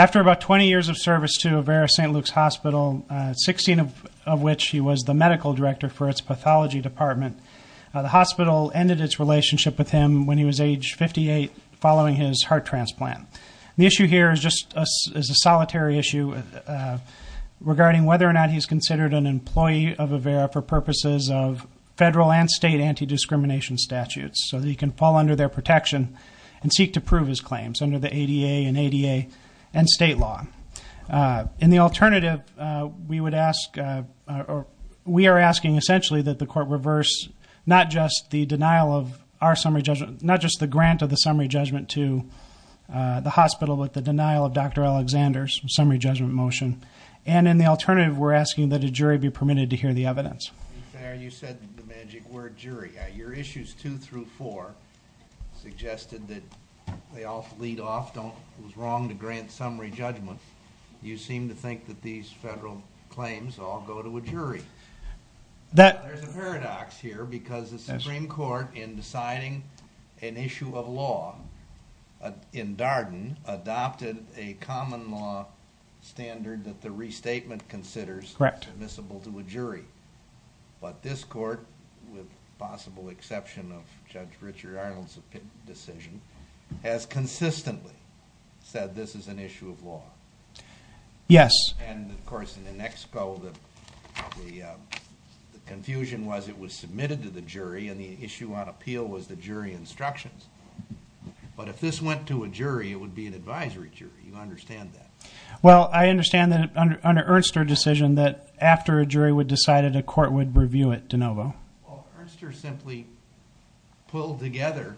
After about 20 years of service to Avera St. Luke's Hospital, 16 of which he was the medical director for its pathology department, the hospital ended its relationship with him when he was age 58 following his heart transplant. The issue here is just a solitary issue regarding whether or not he's considered an employee of Avera for purposes of federal and state anti-discrimination statutes so that he can fall under their protection and seek to prove his claims under the ADA and ADA and state law. In the alternative, we are asking essentially that the court reverse not just the grant of the summary judgment to the hospital but the denial of Dr. Alexander's summary judgment motion. And in the alternative, we're asking that a jury be permitted to hear the evidence. In fairness, you said the magic word, jury. Your issues two through four suggested that they all lead off, it was wrong to grant summary judgment. You seem to think that these federal claims all go to a jury. There's a paradox here because the Supreme Court in deciding an issue of law in Darden adopted a common law standard that the restatement considers permissible to a jury. But this court, with possible exception of Judge Richard Arnold's decision, has consistently said this is an issue of law. Yes. And of course, in the next poll, the confusion was it was submitted to the jury and the issue on appeal was the jury instructions. But if this went to a jury, it would be an advisory jury. You understand that? Well, I understand that under Ernst's decision that after a jury would decide it, a court would review it de novo. Well, Ernst simply pulled together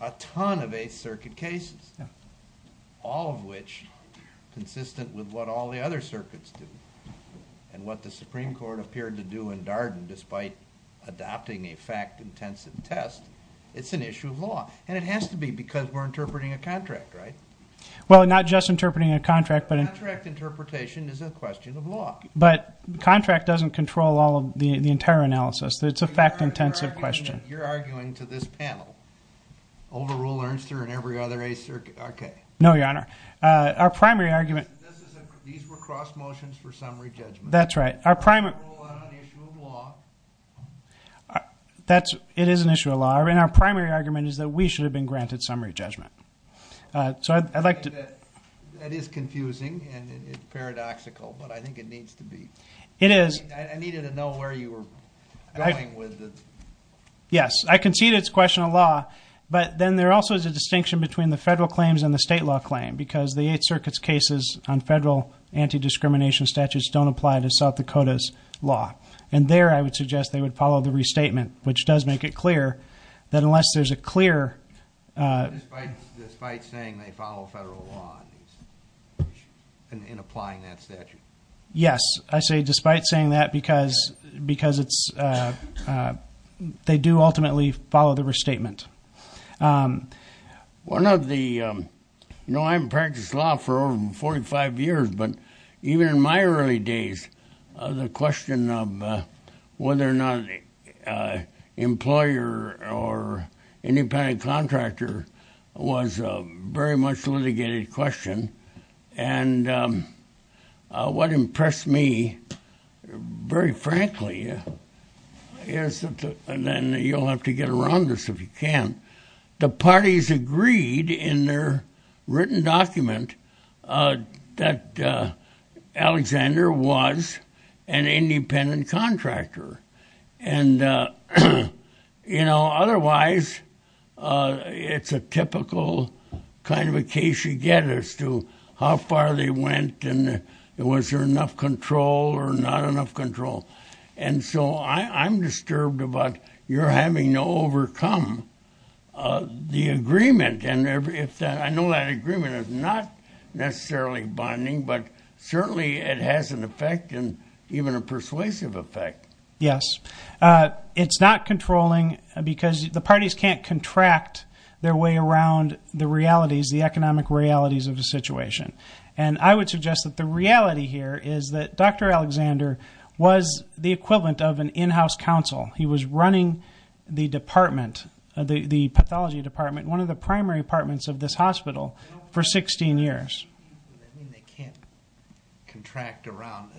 a ton of Eighth Circuit cases, all of which consistent with what all the other circuits did and what the Supreme Court appeared to do in Darden despite adopting a fact-intensive test. It's an issue of law. And it has to be because we're interpreting a contract, right? Well, not just interpreting a contract. Contract interpretation is a question of law. But contract doesn't control all of the entire analysis. It's a fact-intensive question. You're arguing to this panel, overrule Ernst and every other Eighth Circuit. No, Your Honor. Our primary argument... These were cross motions for summary judgment. That's right. Our primary... Overrule on an issue of law. It is an issue of law. And our primary argument is that we should have been granted summary judgment. That is confusing and paradoxical, but I think it needs to be. It is. I needed to know where you were going with it. Yes. I concede it's a question of law, but then there also is a distinction between the federal claims and the state law claim because the Eighth Circuit's cases on federal anti-discrimination statutes don't apply to South Dakota's law. And there I would suggest they would follow the restatement, which does make it clear that unless there's a clear... Despite saying they follow federal law in applying that statute? Yes. I say despite saying that because they do ultimately follow the restatement. One of the... You know, I haven't practiced law for over 45 years, but even in my early days, the question of whether or not an employer or independent contractor was very much a litigated question. And what impressed me, very frankly, and you'll have to get around this if you can, the parties agreed in their written document that Alexander was an independent contractor. And, you know, otherwise, it's a typical kind of a case you get as to how far they went and was there enough control or not enough control. And so I'm disturbed about your having to overcome the agreement. And I know that agreement is not necessarily bonding, but certainly it has an effect and even a persuasive effect. Yes. It's not controlling because the parties can't contract their way around the realities, the economic realities of the situation. And I would suggest that the reality here is that Dr. Alexander was the equivalent of an in-house counsel. He was running the department, the pathology department, one of the primary departments of this hospital for 16 years. I mean, they can't contract around.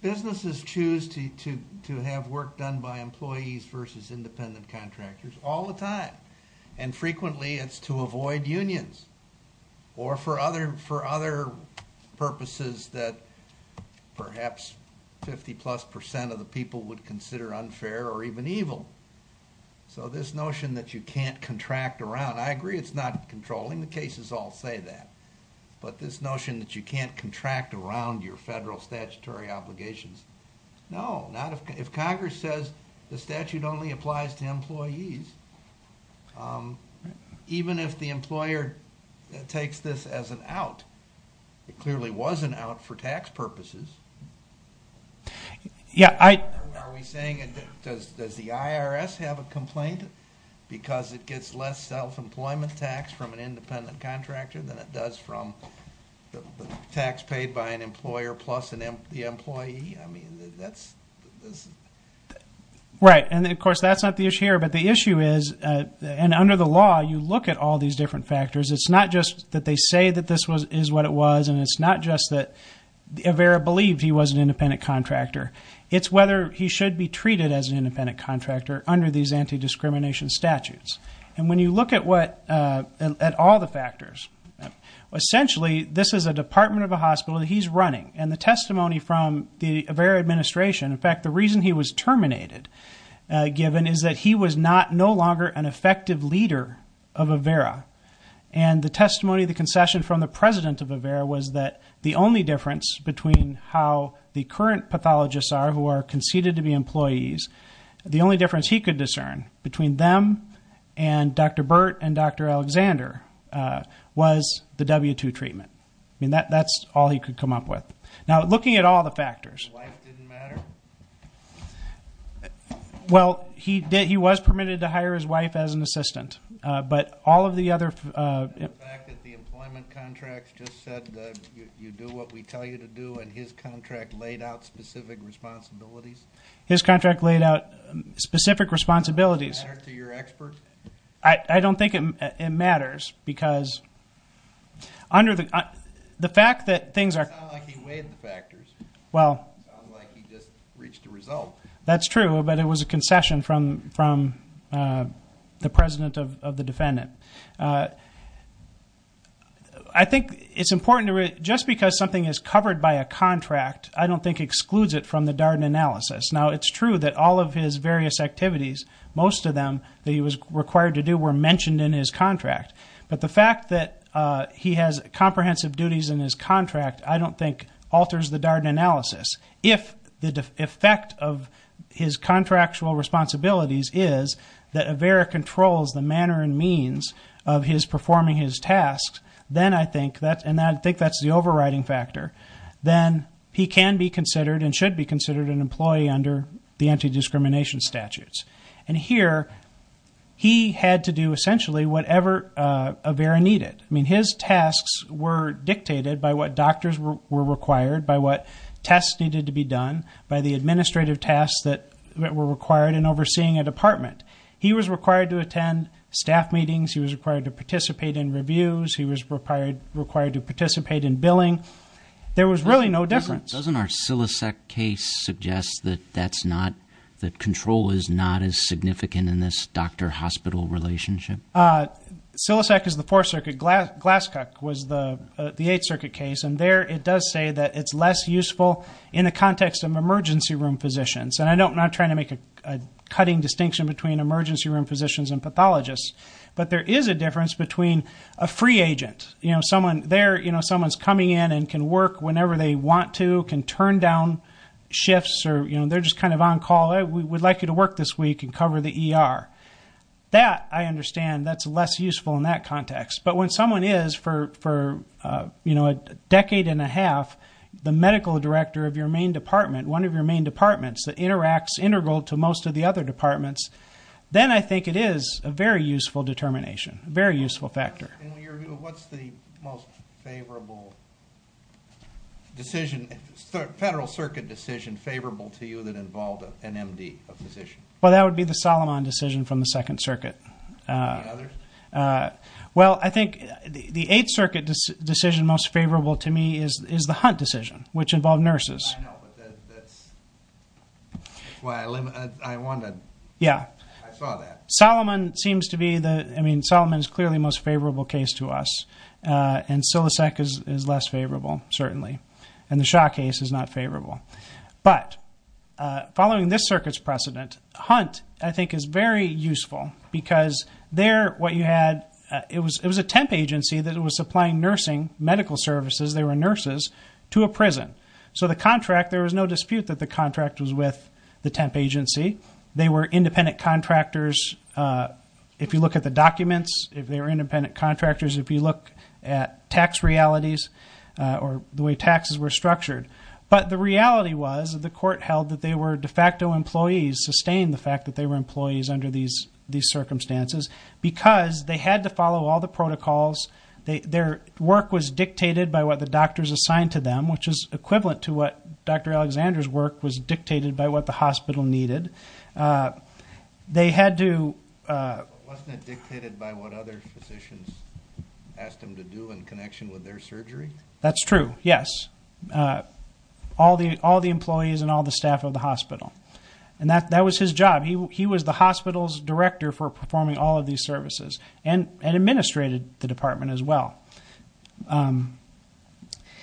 Businesses choose to have work done by employees versus independent contractors all the time. And frequently it's to avoid unions or for other purposes that perhaps 50-plus percent of the people would consider unfair or even evil. So this notion that you can't contract around, I agree it's not controlling, the cases all say that. But this notion that you can't contract around your federal statutory obligations, no. If Congress says the statute only applies to employees, even if the employer takes this as an out, it clearly was an out for tax purposes. Are we saying does the IRS have a complaint because it gets less self-employment tax from an independent contractor than it does from the tax paid by an employer plus the employee? I mean, that's... Right. And of course that's not the issue here. But the issue is, and under the law you look at all these different factors, it's not just that they say that this is what it was. And it's not just that Avera believed he was an independent contractor. It's whether he should be treated as an independent contractor under these anti-discrimination statutes. And when you look at all the factors, essentially this is a department of a hospital that he's running. And the testimony from the Avera administration, in fact the reason he was terminated, given, is that he was no longer an effective leader of Avera. And the testimony, the concession from the president of Avera was that the only difference between how the current pathologists are, who are conceded to be employees, the only difference he could discern between them and Dr. Burt and Dr. Alexander was the W-2 treatment. I mean, that's all he could come up with. Now, looking at all the factors... His wife didn't matter? Well, he was permitted to hire his wife as an assistant. But all of the other... The fact that the employment contract just said that you do what we tell you to do and his contract laid out specific responsibilities? His contract laid out specific responsibilities. Does it matter to your expert? I don't think it matters because under the fact that things are... It sounds like he weighed the factors. Well... It sounds like he just reached a result. That's true, but it was a concession from the president of the defendant. I think it's important to... Just because something is covered by a contract, I don't think excludes it from the Darden analysis. Now, it's true that all of his various activities, most of them that he was required to do, were mentioned in his contract. But the fact that he has comprehensive duties in his contract, I don't think alters the Darden analysis. If the effect of his contractual responsibilities is that Avera controls the manner and means of his performing his tasks, then I think that's the overriding factor. Then he can be considered and should be considered an employee under the anti-discrimination statutes. And here, he had to do essentially whatever Avera needed. I mean, his tasks were dictated by what doctors were required, by what tests needed to be done, by the administrative tasks that were required in overseeing a department. He was required to attend staff meetings. He was required to participate in reviews. He was required to participate in billing. There was really no difference. Doesn't our Sillisec case suggest that control is not as significant in this doctor-hospital relationship? Sillisec is the Fourth Circuit. Glasscock was the Eighth Circuit case. And there, it does say that it's less useful in the context of emergency room physicians. And I'm not trying to make a cutting distinction between emergency room physicians and pathologists. But there is a difference between a free agent. Someone's coming in and can work whenever they want to, can turn down shifts, or they're just kind of on call. We would like you to work this week and cover the ER. That, I understand, that's less useful in that context. But when someone is, for a decade and a half, the medical director of your main department, one of your main departments that interacts integral to most of the other departments, then I think it is a very useful determination, a very useful factor. What's the most favorable decision, Federal Circuit decision, favorable to you that involved an MD, a physician? Well, that would be the Solomon decision from the Second Circuit. Any others? Well, I think the Eighth Circuit decision most favorable to me is the Hunt decision, which involved nurses. I know, but that's why I wanted to, I saw that. Solomon seems to be the, I mean, Solomon is clearly the most favorable case to us, and Silosec is less favorable, certainly, and the Shaw case is not favorable. But following this circuit's precedent, Hunt, I think, is very useful because there, what you had, it was a temp agency that was supplying nursing, medical services, they were nurses, to a prison. So the contract, there was no dispute that the contract was with the temp agency. They were independent contractors. If you look at the documents, if they were independent contractors, if you look at tax realities or the way taxes were structured. But the reality was that the court held that they were de facto employees, sustained the fact that they were employees under these circumstances, because they had to follow all the protocols. Their work was dictated by what the doctors assigned to them, which is equivalent to what Dr. Alexander's work was dictated by what the hospital needed. They had to... Wasn't it dictated by what other physicians asked them to do in connection with their surgery? That's true, yes. All the employees and all the staff of the hospital. And that was his job. He was the hospital's director for performing all of these services and administrated the department as well.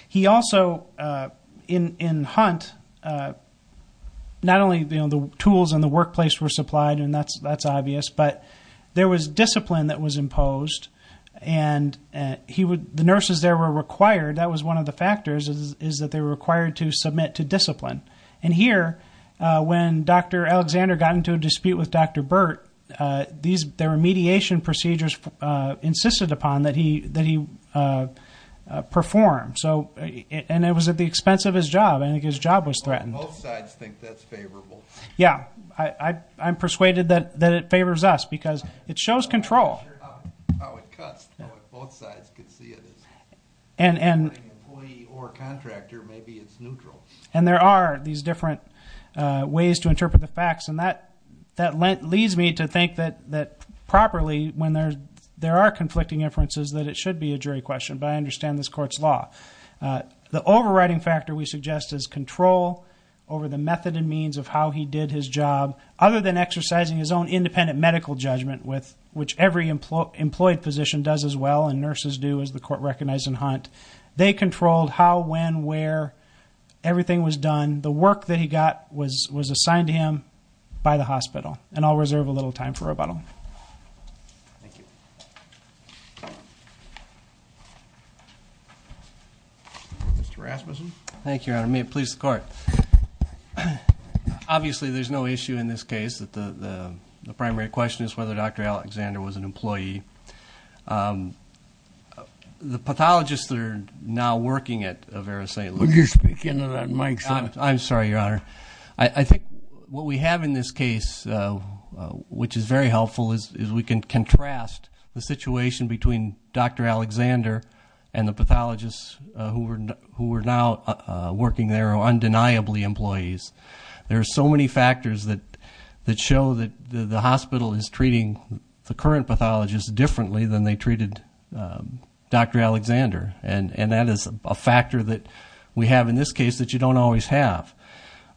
He also, in Hunt, not only the tools in the workplace were supplied, and that's obvious, but there was discipline that was imposed, and the nurses there were required. That was one of the factors, is that they were required to submit to discipline. And here, when Dr. Alexander got into a dispute with Dr. Burt, there were mediation procedures insisted upon that he perform. And it was at the expense of his job. I think his job was threatened. Both sides think that's favorable. Yeah. I'm persuaded that it favors us, because it shows control. I'm not sure how it cuts. If both sides could see it as an employee or a contractor, maybe it's neutral. And there are these different ways to interpret the facts, and that leads me to think that properly, when there are conflicting inferences, that it should be a jury question, but I understand this court's law. The overriding factor, we suggest, is control over the method and means of how he did his job, other than exercising his own independent medical judgment, which every employed physician does as well, and nurses do, as the court recognized in Hunt. They controlled how, when, where everything was done. And the work that he got was assigned to him by the hospital. And I'll reserve a little time for rebuttal. Thank you. Mr. Rasmussen. Thank you, Your Honor. May it please the Court. Obviously, there's no issue in this case. The primary question is whether Dr. Alexander was an employee. The pathologists that are now working at Avera St. Luke's. I'm sorry, Your Honor. I think what we have in this case, which is very helpful, is we can contrast the situation between Dr. Alexander and the pathologists who are now working there, who are undeniably employees. There are so many factors that show that the hospital is treating the current pathologists differently than they treated Dr. Alexander. And that is a factor that we have in this case that you don't always have.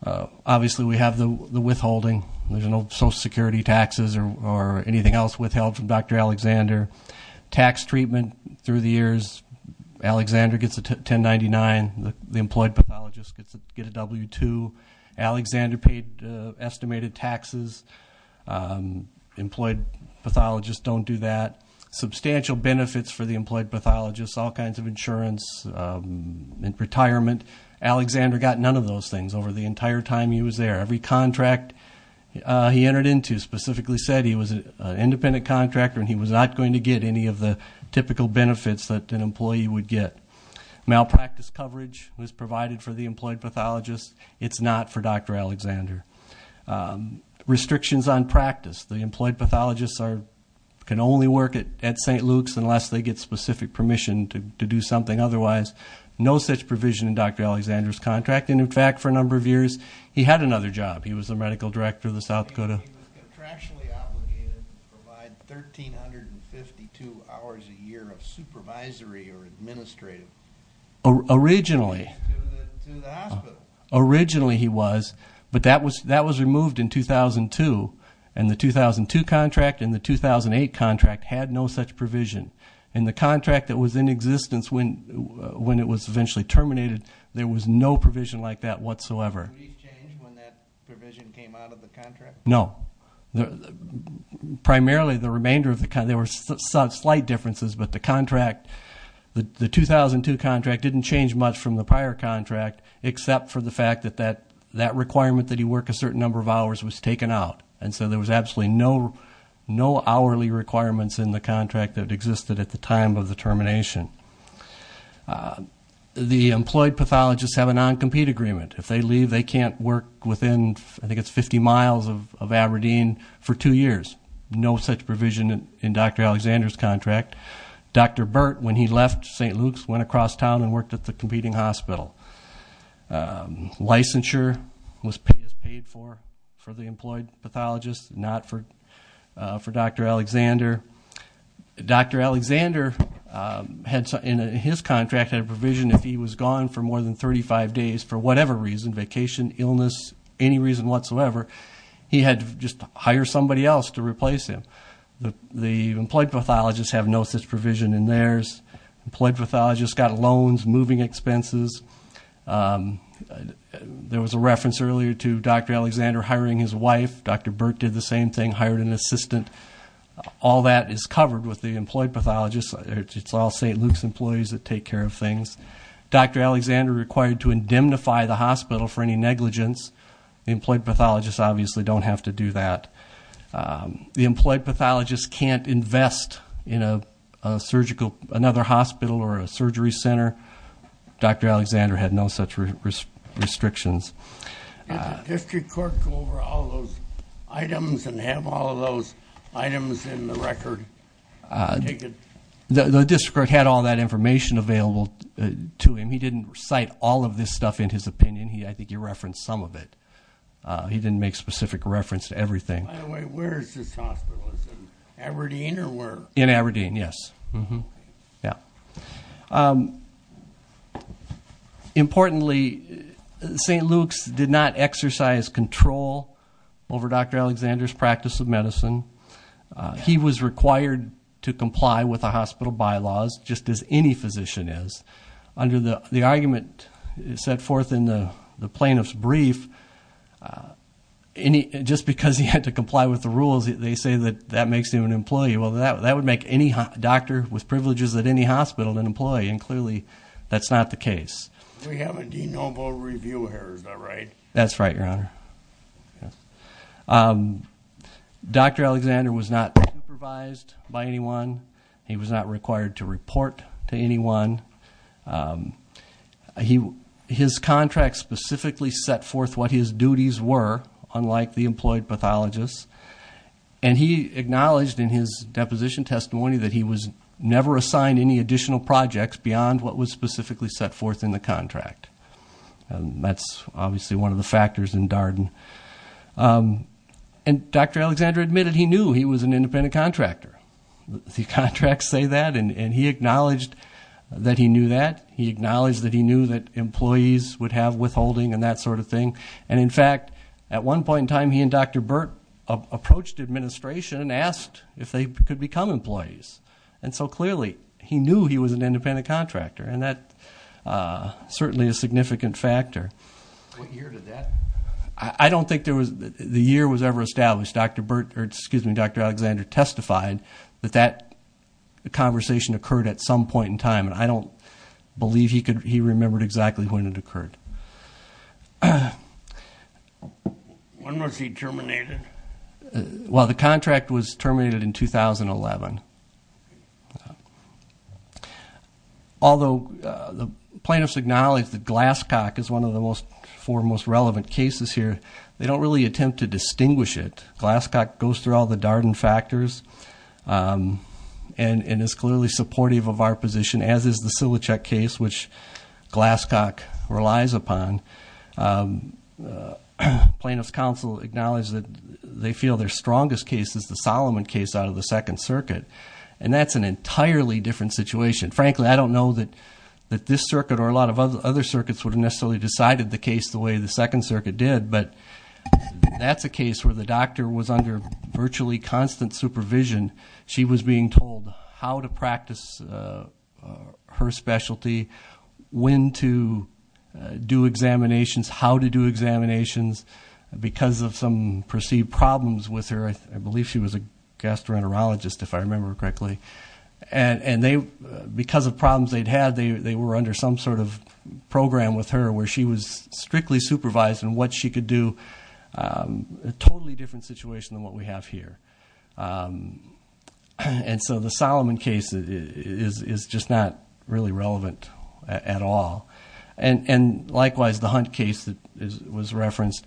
Obviously, we have the withholding. There's no Social Security taxes or anything else withheld from Dr. Alexander. Tax treatment through the years, Alexander gets a 1099. The employed pathologist gets a W-2. Alexander paid estimated taxes. Employed pathologists don't do that. Substantial benefits for the employed pathologists, all kinds of insurance and retirement. Alexander got none of those things over the entire time he was there. Every contract he entered into specifically said he was an independent contractor and he was not going to get any of the typical benefits that an employee would get. Malpractice coverage was provided for the employed pathologist. It's not for Dr. Alexander. Restrictions on practice. The employed pathologists can only work at St. Luke's unless they get specific permission to do something otherwise. No such provision in Dr. Alexander's contract. In fact, for a number of years he had another job. He was the medical director of the South Dakota. He was contractually obligated to provide 1,352 hours a year of supervisory or administrative to the hospital. Originally he was, but that was removed in 2002. And the 2002 contract and the 2008 contract had no such provision. In the contract that was in existence when it was eventually terminated, there was no provision like that whatsoever. Did he change when that provision came out of the contract? No. Primarily the remainder of the contract, there were slight differences, but the contract, the 2002 contract didn't change much from the prior contract except for the fact that that requirement that he work a certain number of hours was taken out. And so there was absolutely no hourly requirements in the contract that existed at the time of the termination. The employed pathologists have a non-compete agreement. If they leave, they can't work within, I think it's 50 miles of Aberdeen for two years. No such provision in Dr. Alexander's contract. In fact, Dr. Burt, when he left St. Luke's, went across town and worked at the competing hospital. Licensure was paid for for the employed pathologists, not for Dr. Alexander. Dr. Alexander in his contract had a provision if he was gone for more than 35 days, for whatever reason, vacation, illness, any reason whatsoever, he had to just hire somebody else to replace him. The employed pathologists have no such provision in theirs. Employed pathologists got loans, moving expenses. There was a reference earlier to Dr. Alexander hiring his wife. Dr. Burt did the same thing, hired an assistant. All that is covered with the employed pathologists. It's all St. Luke's employees that take care of things. Dr. Alexander required to indemnify the hospital for any negligence. Employed pathologists obviously don't have to do that. The employed pathologists can't invest in another hospital or a surgery center. Dr. Alexander had no such restrictions. Did the district court go over all those items and have all those items in the record? The district court had all that information available to him. He didn't cite all of this stuff in his opinion. I think he referenced some of it. He didn't make specific reference to everything. By the way, where is this hospital? Is it in Aberdeen or where? In Aberdeen, yes. Importantly, St. Luke's did not exercise control over Dr. Alexander's practice of medicine. He was required to comply with the hospital bylaws just as any physician is. Under the argument set forth in the plaintiff's brief, just because he had to comply with the rules, they say that that makes him an employee. Well, that would make any doctor with privileges at any hospital an employee, and clearly that's not the case. We have a denoble review here, is that right? That's right, Your Honor. Dr. Alexander was not supervised by anyone. He was not required to report to anyone. His contract specifically set forth what his duties were, unlike the employed pathologists, and he acknowledged in his deposition testimony that he was never assigned any additional projects beyond what was specifically set forth in the contract. That's obviously one of the factors in Darden. And Dr. Alexander admitted he knew he was an independent contractor. The contracts say that, and he acknowledged that he knew that. He acknowledged that he knew that employees would have withholding and that sort of thing. And, in fact, at one point in time, he and Dr. Burt approached administration and asked if they could become employees. And so, clearly, he knew he was an independent contractor, and that's certainly a significant factor. What year did that? I don't think the year was ever established. Dr. Alexander testified that that conversation occurred at some point in time, and I don't believe he remembered exactly when it occurred. When was he terminated? Well, the contract was terminated in 2011. Although the plaintiffs acknowledge that Glasscock is one of the four most relevant cases here, they don't really attempt to distinguish it. Glasscock goes through all the Darden factors and is clearly supportive of our position, as is the Silichuk case, which Glasscock relies upon. Plaintiffs' counsel acknowledge that they feel their strongest case is the Solomon case out of the Second Circuit, and that's an entirely different situation. Frankly, I don't know that this circuit or a lot of other circuits would have necessarily decided the case the way the Second Circuit did, but that's a case where the doctor was under virtually constant supervision. She was being told how to practice her specialty, when to do examinations, how to do examinations because of some perceived problems with her. I believe she was a gastroenterologist, if I remember correctly. And because of problems they'd had, they were under some sort of program with her where she was strictly supervised in what she could do, a totally different situation than what we have here. And so the Solomon case is just not really relevant at all. And likewise, the Hunt case that was referenced,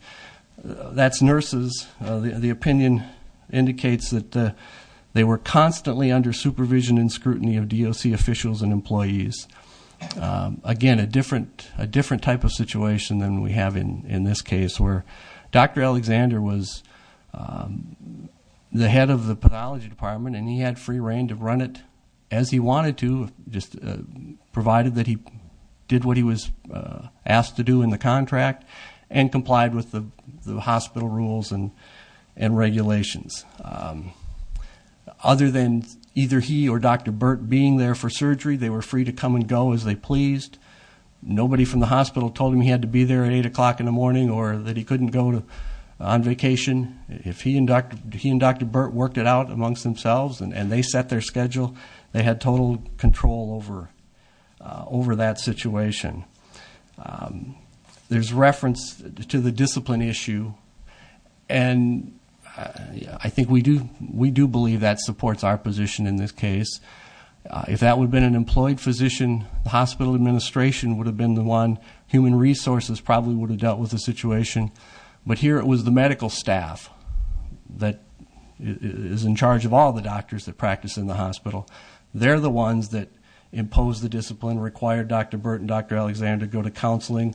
that's nurses. The opinion indicates that they were constantly under supervision and scrutiny of DOC officials and employees. Again, a different type of situation than we have in this case, where Dr. Alexander was the head of the pathology department, and he had free reign to run it as he wanted to, provided that he did what he was asked to do in the contract and complied with the hospital rules and regulations. Other than either he or Dr. Burt being there for surgery, they were free to come and go as they pleased. Nobody from the hospital told him he had to be there at 8 o'clock in the morning or that he couldn't go on vacation. If he and Dr. Burt worked it out amongst themselves and they set their schedule, they had total control over that situation. There's reference to the discipline issue, and I think we do believe that supports our position in this case. If that would have been an employed physician, the hospital administration would have been the one. Human resources probably would have dealt with the situation. But here it was the medical staff that is in charge of all the doctors that practice in the hospital. They're the ones that impose the discipline, require Dr. Burt and Dr. Alexander to go to counseling.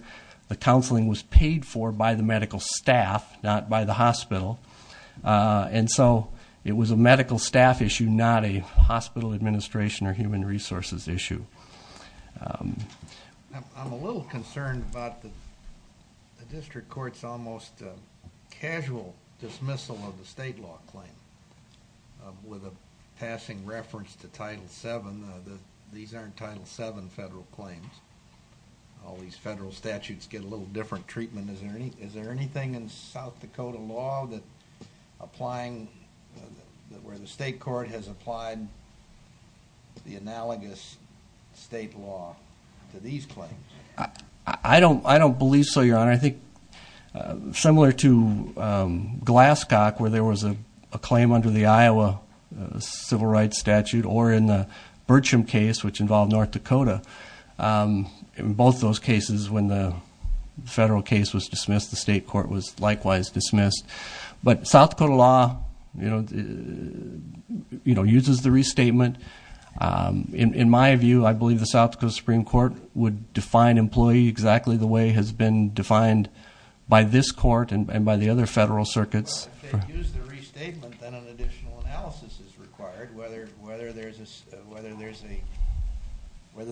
The counseling was paid for by the medical staff, not by the hospital. And so it was a medical staff issue, not a hospital administration or human resources issue. I'm a little concerned about the district court's almost casual dismissal of the state law claim with a passing reference to Title VII. These aren't Title VII federal claims. All these federal statutes get a little different treatment. Is there anything in South Dakota law where the state court has applied the analogous state law to these claims? I don't believe so, Your Honor. I think similar to Glasscock, where there was a claim under the Iowa Civil Rights Statute or in the Bertram case, which involved North Dakota, in both those cases when the federal case was dismissed, the state court was likewise dismissed. But South Dakota law uses the restatement. In my view, I believe the South Dakota Supreme Court would define employee exactly the way it has been defined by this court and by the other federal circuits. Well, if they use the restatement, then an additional analysis is required, whether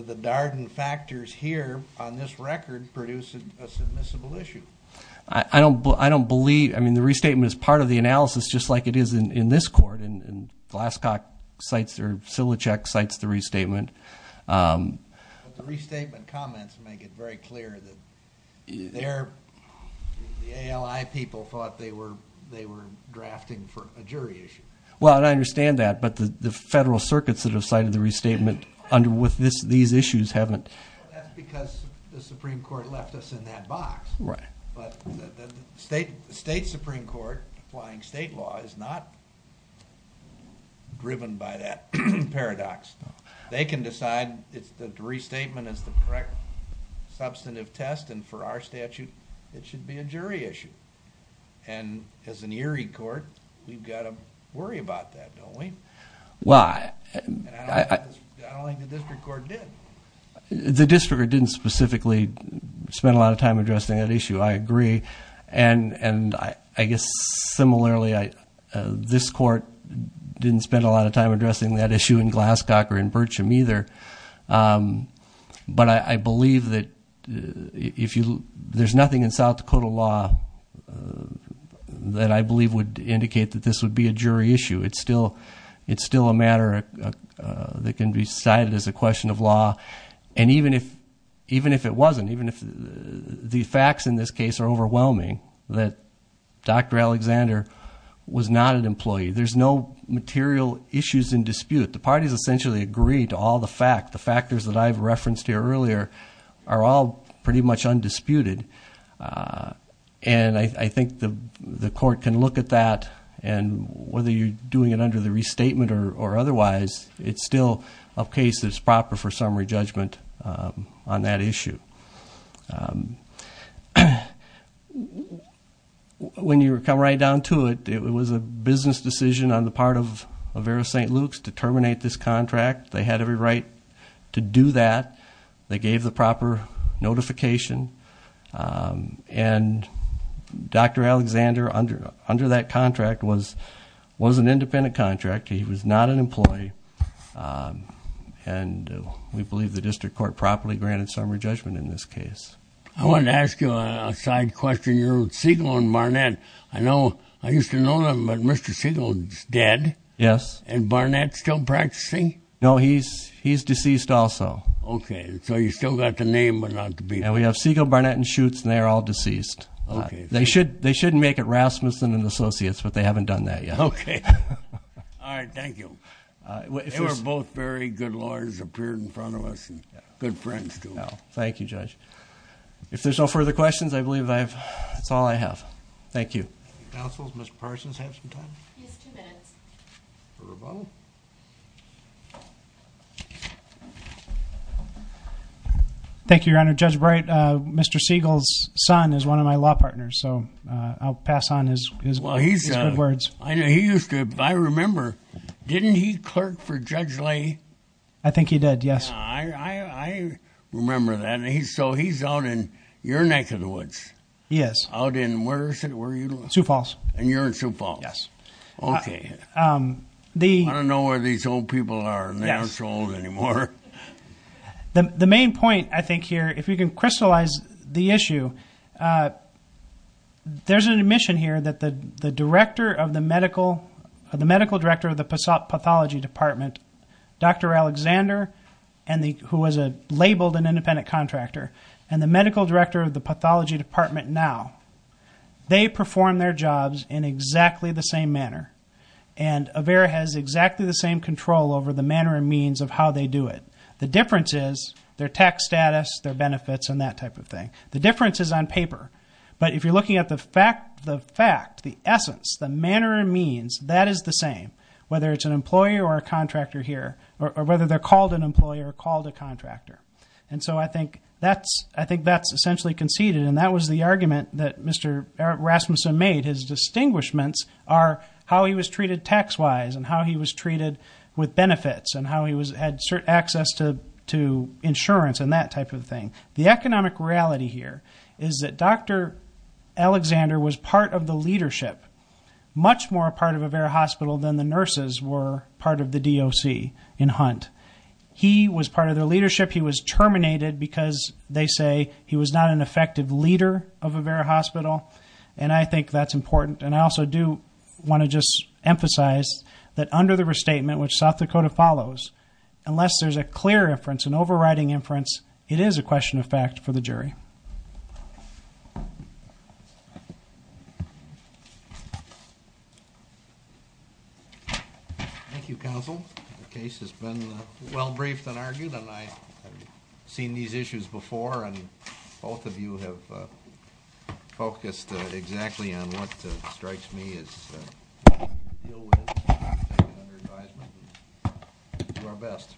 the Darden factors here on this record produce a submissible issue. I don't believe. I mean, the restatement is part of the analysis, just like it is in this court. And Glasscock cites or Silichek cites the restatement. But the restatement comments make it very clear that the ALI people thought they were drafting for a jury issue. Well, I understand that. But the federal circuits that have cited the restatement with these issues haven't. That's because the Supreme Court left us in that box. Right. But the state Supreme Court applying state law is not driven by that paradox. They can decide the restatement is the correct substantive test. And for our statute, it should be a jury issue. And as an eerie court, we've got to worry about that, don't we? Well, I don't think the district court did. The district didn't specifically spend a lot of time addressing that issue. I agree. And I guess similarly, this court didn't spend a lot of time addressing that issue in Glasscock or in Bircham either. But I believe that if you look, there's nothing in South Dakota law that I believe would indicate that this would be a jury issue. It's still a matter that can be cited as a question of law. And even if it wasn't, even if the facts in this case are overwhelming, that Dr. Alexander was not an employee, there's no material issues in dispute. The parties essentially agree to all the facts. The factors that I've referenced here earlier are all pretty much undisputed. And I think the court can look at that, and whether you're doing it under the restatement or otherwise, it's still a case that's proper for summary judgment on that issue. When you come right down to it, it was a business decision on the part of Avera St. Luke's to terminate this contract. They had every right to do that. They gave the proper notification. And Dr. Alexander, under that contract, was an independent contractor. He was not an employee. And we believe the district court properly granted summary judgment in this case. I wanted to ask you a side question. You're Segal and Barnett. I used to know them, but Mr. Segal is dead. Yes. And Barnett still practicing? No, he's deceased also. Okay. So you still got the name, but not the people. And we have Segal, Barnett, and Schutz, and they're all deceased. They should make it Rasmussen and Associates, but they haven't done that yet. Okay. All right. Thank you. They were both very good lawyers, appeared in front of us, and good friends, too. Thank you, Judge. If there's no further questions, I believe that's all I have. Thank you. Counsel, does Mr. Parsons have some time? He has two minutes. Thank you, Your Honor. Judge Bright, Mr. Segal's son is one of my law partners, so I'll pass on his good words. I remember, didn't he clerk for Judge Lay? I think he did, yes. I remember that. So he's out in your neck of the woods. Yes. Out in, where is it? Sioux Falls. And you're in Sioux Falls. Yes. Okay. I don't know where these old people are, and they aren't so old anymore. The main point, I think, here, if we can crystallize the issue, there's an admission here that the medical director of the pathology department, Dr. Alexander, who was labeled an independent contractor, and the medical director of the pathology department now, they perform their jobs in exactly the same manner, and AVERA has exactly the same control over the manner and means of how they do it. The difference is their tax status, their benefits, and that type of thing. The difference is on paper. But if you're looking at the fact, the essence, the manner and means, that is the same, whether it's an employer or a contractor here, or whether they're called an employer or called a contractor. And so I think that's essentially conceded, and that was the argument that Mr. Rasmussen made. His distinguishments are how he was treated tax-wise and how he was treated with benefits and how he had access to insurance and that type of thing. The economic reality here is that Dr. Alexander was part of the leadership, much more a part of AVERA Hospital than the nurses were part of the DOC in Hunt. He was part of their leadership. He was terminated because, they say, he was not an effective leader of AVERA Hospital, and I think that's important. And I also do want to just emphasize that under the restatement, which South Dakota follows, unless there's a clear inference, it is a question of fact for the jury. Thank you, counsel. The case has been well-briefed and argued, and I have seen these issues before, and both of you have focused exactly on what strikes me as ill-willed, and under your advisement, we'll do our best.